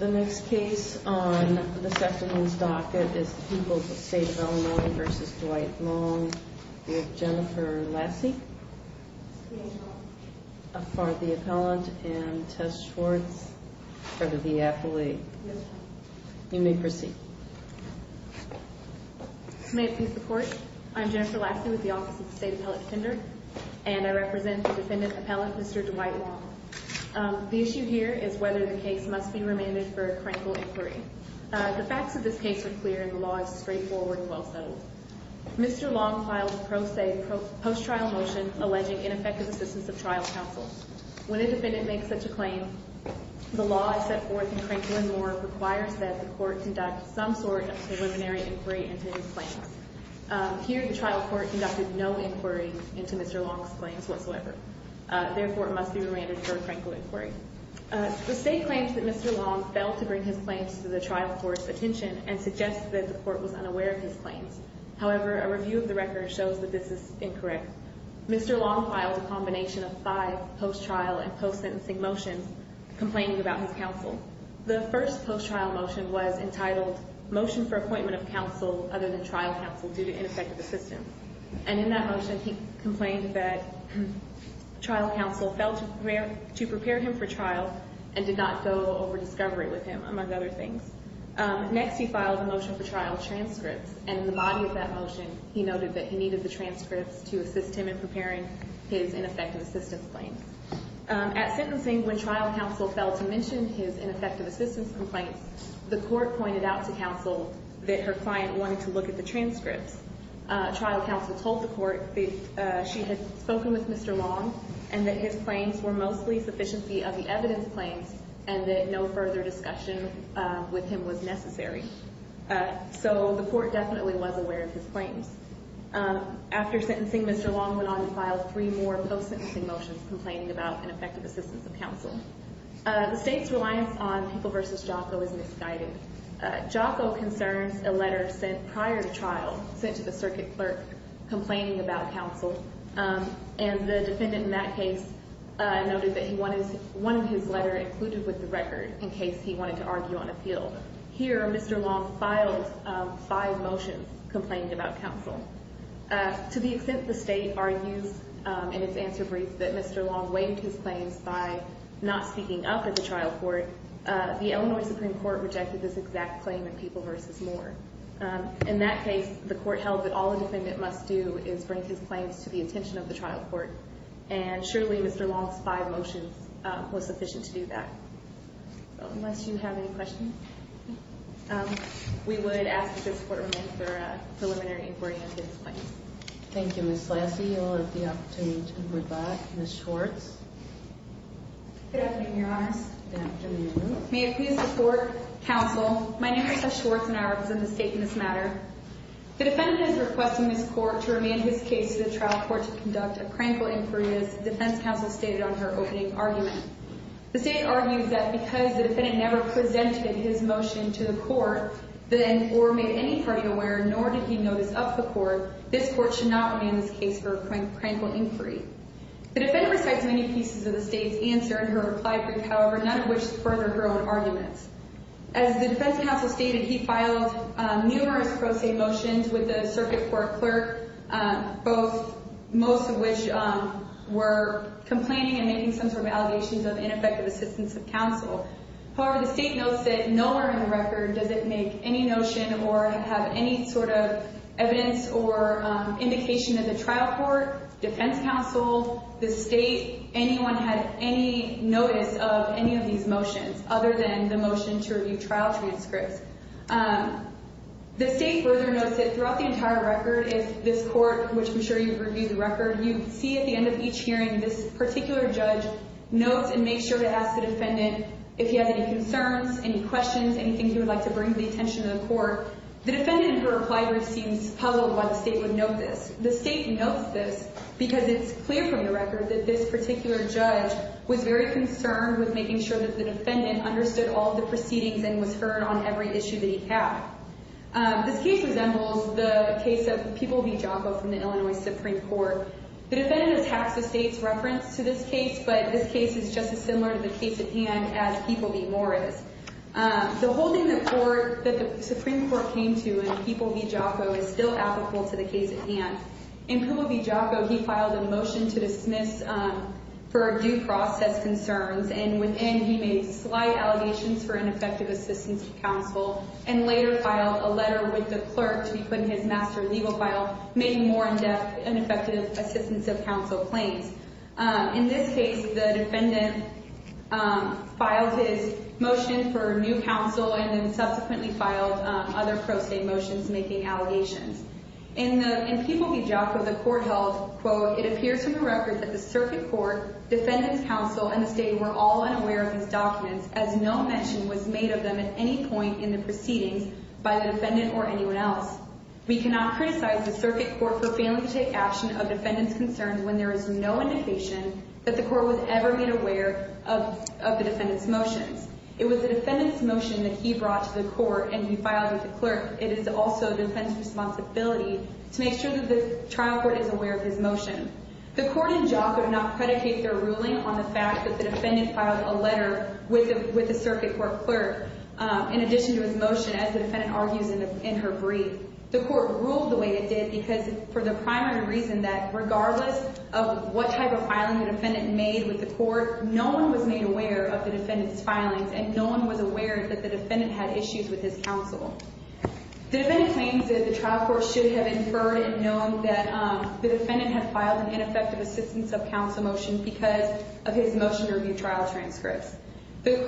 The next case on this afternoon's docket is the People v. State of Illinois v. Dwight Long with Jennifer Lassie for the appellant and Tess Schwartz for the de-athlete. You may proceed. May it please the Court, I'm Jennifer Lassie with the Office of the State Appellate Defender and I represent the defendant appellant, Mr. Dwight Long. The issue here is whether the case must be remanded for a Krankel inquiry. The facts of this case are clear and the law is straightforward and well-settled. Mr. Long filed a post-trial motion alleging ineffective assistance of trial counsel. When a defendant makes such a claim, the law as set forth in Krankel and Moore requires that the court conduct some sort of preliminary inquiry into his claims. Here, the trial court conducted no inquiry into Mr. Long's claims whatsoever. Therefore, it must be remanded for a Krankel inquiry. The State claims that Mr. Long failed to bring his claims to the trial court's attention and suggests that the court was unaware of his claims. However, a review of the record shows that this is incorrect. Mr. Long filed a combination of five post-trial and post-sentencing motions complaining about his counsel. The first post-trial motion was entitled Motion for Appointment of Counsel Other than Trial Counsel Due to Ineffective Assistance. And in that motion, he complained that trial counsel failed to prepare him for trial and did not go over discovery with him, among other things. Next, he filed a motion for trial transcripts. And in the body of that motion, he noted that he needed the transcripts to assist him in preparing his ineffective assistance claims. At sentencing, when trial counsel failed to mention his ineffective assistance complaints, the court pointed out to counsel that her client wanted to look at the transcripts. Trial counsel told the court that she had spoken with Mr. Long and that his claims were mostly sufficiency of the evidence claims and that no further discussion with him was necessary. So the court definitely was aware of his claims. After sentencing, Mr. Long went on to file three more post-sentencing motions complaining about ineffective assistance of counsel. The State's reliance on People v. Jocko is misguided. Jocko concerns a letter sent prior to trial, sent to the circuit clerk, complaining about counsel. And the defendant in that case noted that he wanted one of his letters included with the record in case he wanted to argue on appeal. Here, Mr. Long filed five motions complaining about counsel. To the extent the State argues in its answer brief that Mr. Long waived his claims by not speaking up at the trial court, the Illinois Supreme Court rejected this exact claim in People v. Moore. In that case, the court held that all a defendant must do is bring his claims to the attention of the trial court, and surely Mr. Long's five motions was sufficient to do that. So unless you have any questions, we would ask that this Court remain for a preliminary inquiry into his claims. Thank you, Ms. Lassie. I'll let the opportunity to move back. Ms. Schwartz. Good afternoon, Your Honor. Good afternoon. May it please the Court, Counsel, my name is Lisa Schwartz, and I represent the State in this matter. The defendant is requesting this Court to remain his case to the trial court to conduct a cranial inquiry, as the defense counsel stated on her opening argument. The State argues that because the defendant never presented his motion to the Court or made any party aware, nor did he notice up the Court, this Court should not remain his case for a cranial inquiry. The defendant recites many pieces of the State's answer in her reply brief, however, none of which further her own arguments. As the defense counsel stated, he filed numerous pro se motions with the circuit court clerk, most of which were complaining and making some sort of allegations of ineffective assistance of counsel. However, the State notes that nowhere in the record does it make any notion or have any sort of evidence or indication that the trial court, defense counsel, the State, anyone had any notice of any of these motions other than the motion to review trial transcripts. The State further notes that throughout the entire record, if this Court, which I'm sure you've reviewed the record, you see at the end of each hearing, this particular judge notes and makes sure to ask the defendant if he has any concerns, any questions, anything he would like to bring to the attention of the Court. The defendant, in her reply brief, seems puzzled why the State would note this. The State notes this because it's clear from the record that this particular judge was very concerned with making sure that the defendant understood all of the proceedings and was heard on every issue that he had. This case resembles the case of People v. Giacco from the Illinois Supreme Court. The defendant attacks the State's reference to this case, but this case is just as similar to the case at hand as People v. Morris. The holding that the Supreme Court came to in People v. Giacco is still applicable to the case at hand. In People v. Giacco, he filed a motion to dismiss for due process concerns, and within he made slight allegations for ineffective assistance to counsel and later filed a letter with the clerk to be put in his master legal file making more in-depth ineffective assistance of counsel claims. In this case, the defendant filed his motion for new counsel and then subsequently filed other pro se motions making allegations. In People v. Giacco, the Court held, quote, It appears from the record that the Circuit Court, Defendant's Counsel, and the State were all unaware of these documents as no mention was made of them at any point in the proceedings by the defendant or anyone else. We cannot criticize the Circuit Court for failing to take action of defendant's concerns when there is no indication that the Court was ever made aware of the defendant's motions. It was the defendant's motion that he brought to the Court and he filed with the clerk. It is also the defendant's responsibility to make sure that the trial court is aware of his motion. The Court and Giacco do not predicate their ruling on the fact that the defendant filed a letter with the Circuit Court clerk in addition to his motion as the defendant argues in her brief. The Court ruled the way it did because for the primary reason that regardless of what type of filing the defendant made with the Court, no one was made aware of the defendant's filings and no one was aware that the defendant had issues with his counsel. The defendant claims that the trial court should have inferred and known that the defendant had filed an ineffective assistance of counsel motion because of his motion to review trial transcripts. The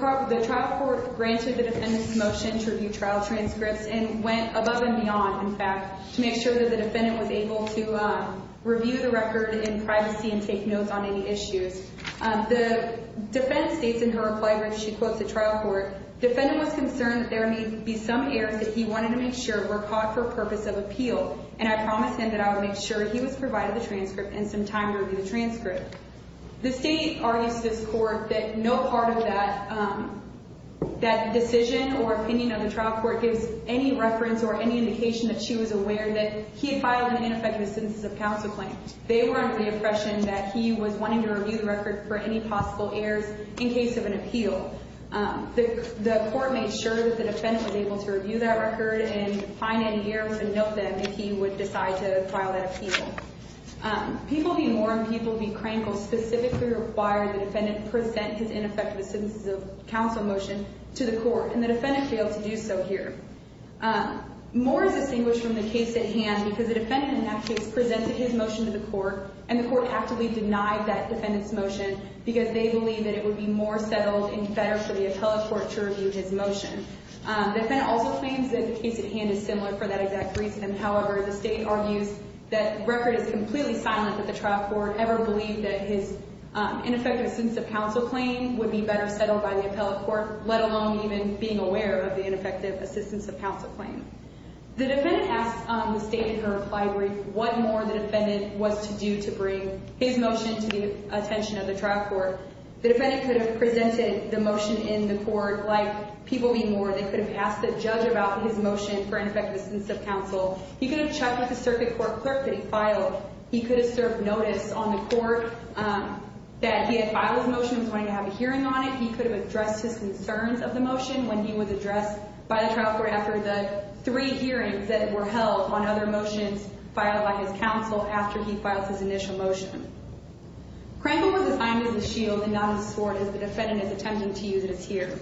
trial court granted the defendant's motion to review trial transcripts and went above and beyond, in fact, to make sure that the defendant was able to review the record in privacy and take notes on any issues. The defendant states in her reply when she quotes the trial court, defendant was concerned that there may be some errors that he wanted to make sure were caught for purpose of appeal and I promised him that I would make sure he was provided the transcript and some time to review the transcript. The state argues to this court that no part of that decision or opinion of the trial court gives any reference or any indication that she was aware that he had filed an ineffective assistance of counsel claim. They were under the impression that he was wanting to review the record for any possible errors in case of an appeal. The court made sure that the defendant was able to review that record and find any errors and note them if he would decide to file that appeal. People be warned, people be crankled. Specifically required the defendant present his ineffective assistance of counsel motion to the court and the defendant failed to do so here. More is distinguished from the case at hand because the defendant in that case presented his motion to the court and the court actively denied that defendant's motion because they believe that it would be more settled and better for the appellate court to review his motion. The defendant also claims that the case at hand is similar for that exact reason. However, the state argues that the record is completely silent that the trial court ever believed that his ineffective assistance of counsel claim would be better settled by the appellate court, let alone even being aware of the ineffective assistance of counsel claim. The defendant asked the state in her reply brief what more the defendant was to do to bring his motion to the attention of the trial court. The defendant could have presented the motion in the court like people be warned. They could have asked the judge about his motion for ineffective assistance of counsel. He could have checked with the circuit court clerk that he filed. He could have served notice on the court that he had filed his motion and was going to have a hearing on it. He could have addressed his concerns of the motion when he was addressed by the trial court after the three hearings that were held on other motions filed by his counsel after he filed his initial motion. Crankle was assigned as a shield and not as a sword as the defendant is attempting to use it as here.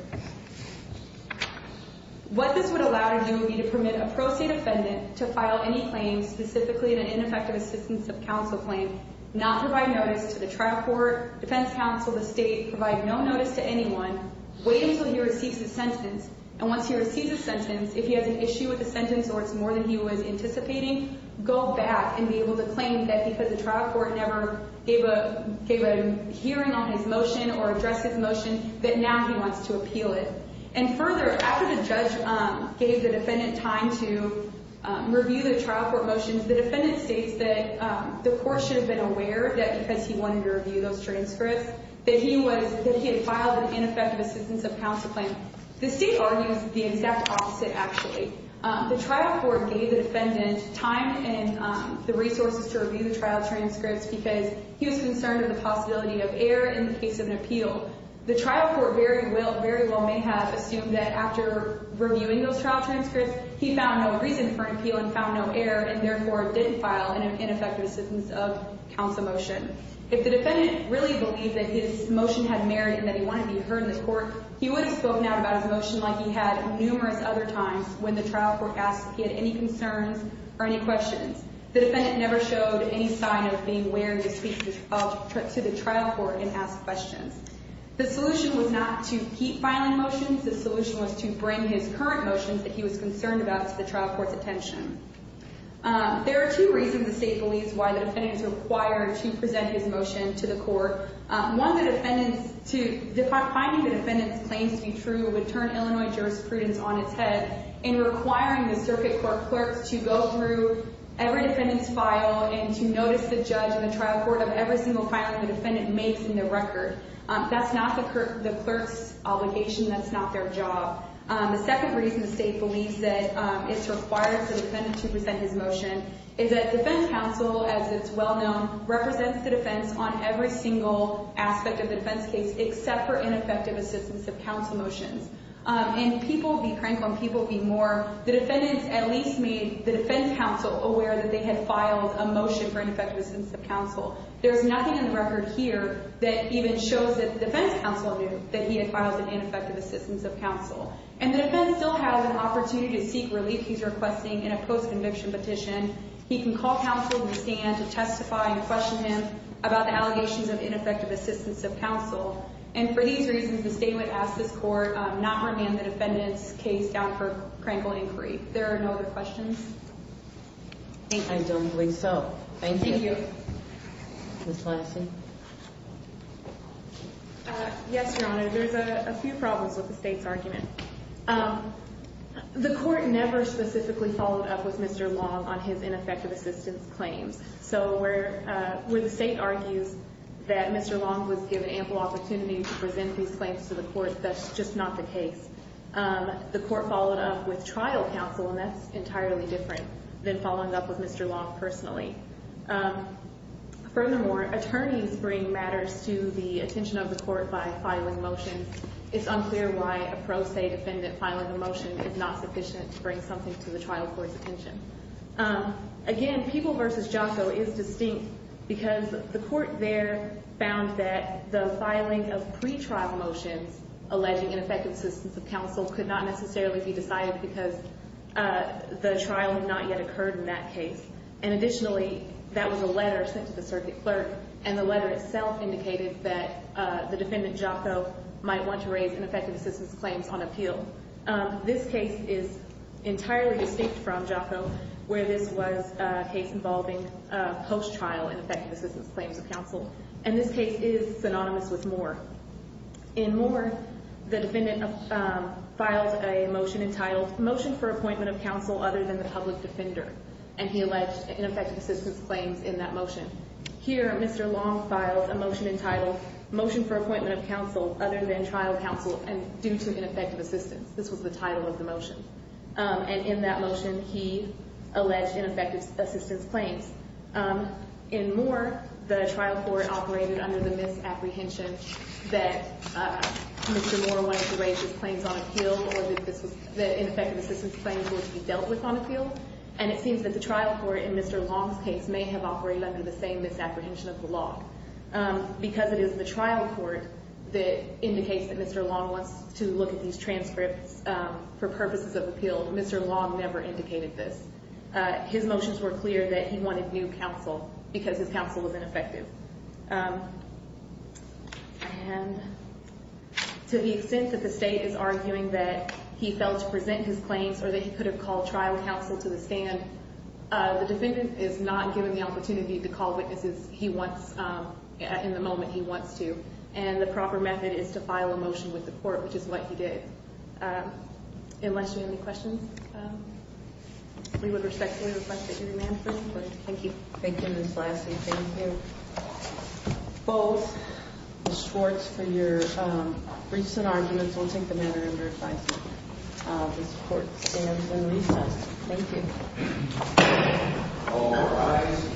What this would allow to do would be to permit a pro se defendant to file any claim specifically in an ineffective assistance of counsel claim, not provide notice to the trial court, defense counsel, the state, provide no notice to anyone, wait until he receives his sentence, and once he receives his sentence, if he has an issue with the sentence or it's more than he was anticipating, go back and be able to claim that because the trial court never gave a hearing on his motion or addressed his motion that now he wants to appeal it. And further, after the judge gave the defendant time to review the trial court motions, the defendant states that the court should have been aware that because he wanted to review those transcripts that he had filed an ineffective assistance of counsel claim. The state argues the exact opposite actually. The trial court gave the defendant time and the resources to review the trial transcripts because he was concerned with the possibility of error in the case of an appeal. The trial court very well may have assumed that after reviewing those trial transcripts, he found no reason for an appeal and found no error and therefore didn't file an ineffective assistance of counsel motion. If the defendant really believed that his motion had merit and that he wanted to be heard in the court, he would have spoken out about his motion like he had numerous other times when the trial court asked if he had any concerns or any questions. The defendant never showed any sign of being wary to speak to the trial court and ask questions. The solution was not to keep filing motions. The solution was to bring his current motions that he was concerned about to the trial court's attention. There are two reasons the state believes why the defendant is required to present his motion to the court. One, finding the defendant's claims to be true would turn Illinois jurisprudence on its head in requiring the circuit court clerks to go through every defendant's file and to notice the judge and the trial court of every single filing the defendant makes in their record. That's not the clerk's obligation. That's not their job. The second reason the state believes that it's required for the defendant to present his motion is that defense counsel, as it's well known, represents the defense on every single aspect of the defense case except for ineffective assistance of counsel motions. And people be frank when people be more. The defendants at least made the defense counsel aware that they had filed a motion for ineffective assistance of counsel. There's nothing in the record here that even shows that the defense counsel knew that he had filed an ineffective assistance of counsel. And the defense still has an opportunity to seek relief he's requesting in a post-conviction petition. He can call counsel and stand to testify and question him about the allegations of ineffective assistance of counsel. And for these reasons, the state would ask this court not to remand the defendant's case down for crankle inquiry. There are no other questions? I don't believe so. Thank you. Thank you. Ms. Lansing? Yes, Your Honor. There's a few problems with the state's argument. The court never specifically followed up with Mr. Long on his ineffective assistance claims. So where the state argues that Mr. Long was given ample opportunity to present these claims to the court, that's just not the case. The court followed up with trial counsel, and that's entirely different than following up with Mr. Long personally. Furthermore, attorneys bring matters to the attention of the court by filing motions. It's unclear why a pro se defendant filing a motion is not sufficient to bring something to the trial court's attention. Again, Peeble v. Jocko is distinct because the court there found that the filing of pretrial motions alleging ineffective assistance of counsel could not necessarily be decided because the trial had not yet occurred in that case. And additionally, that was a letter sent to the circuit clerk, and the letter itself indicated that the defendant, Jocko, might want to raise ineffective assistance claims on appeal. This case is entirely distinct from Jocko, where this was a case involving post-trial ineffective assistance claims of counsel. And this case is synonymous with Moore. In Moore, the defendant filed a motion entitled, Motion for Appointment of Counsel Other than the Public Defender. And he alleged ineffective assistance claims in that motion. Here, Mr. Long filed a motion entitled, Motion for Appointment of Counsel Other than Trial Counsel Due to Ineffective Assistance. This was the title of the motion. And in that motion, he alleged ineffective assistance claims. In Moore, the trial court operated under the misapprehension that Mr. Moore wanted to raise his claims on appeal or that ineffective assistance claims would be dealt with on appeal. And it seems that the trial court in Mr. Long's case may have operated under the same misapprehension of the law. Because it is the trial court that indicates that Mr. Long wants to look at these transcripts for purposes of appeal, Mr. Long never indicated this. His motions were clear that he wanted new counsel because his counsel was ineffective. And to the extent that the state is arguing that he failed to present his claims or that he could have called trial counsel to the stand, the defendant is not given the opportunity to call witnesses he wants in the moment he wants to. And the proper method is to file a motion with the court, which is what he did. Unless you have any questions, we would respectfully request that you remain silent. Thank you. Thank you, Ms. Lassie. Thank you. Both Ms. Schwartz for your briefs and arguments. We'll take the matter under advisement. This court stands in recess. Thank you. All rise.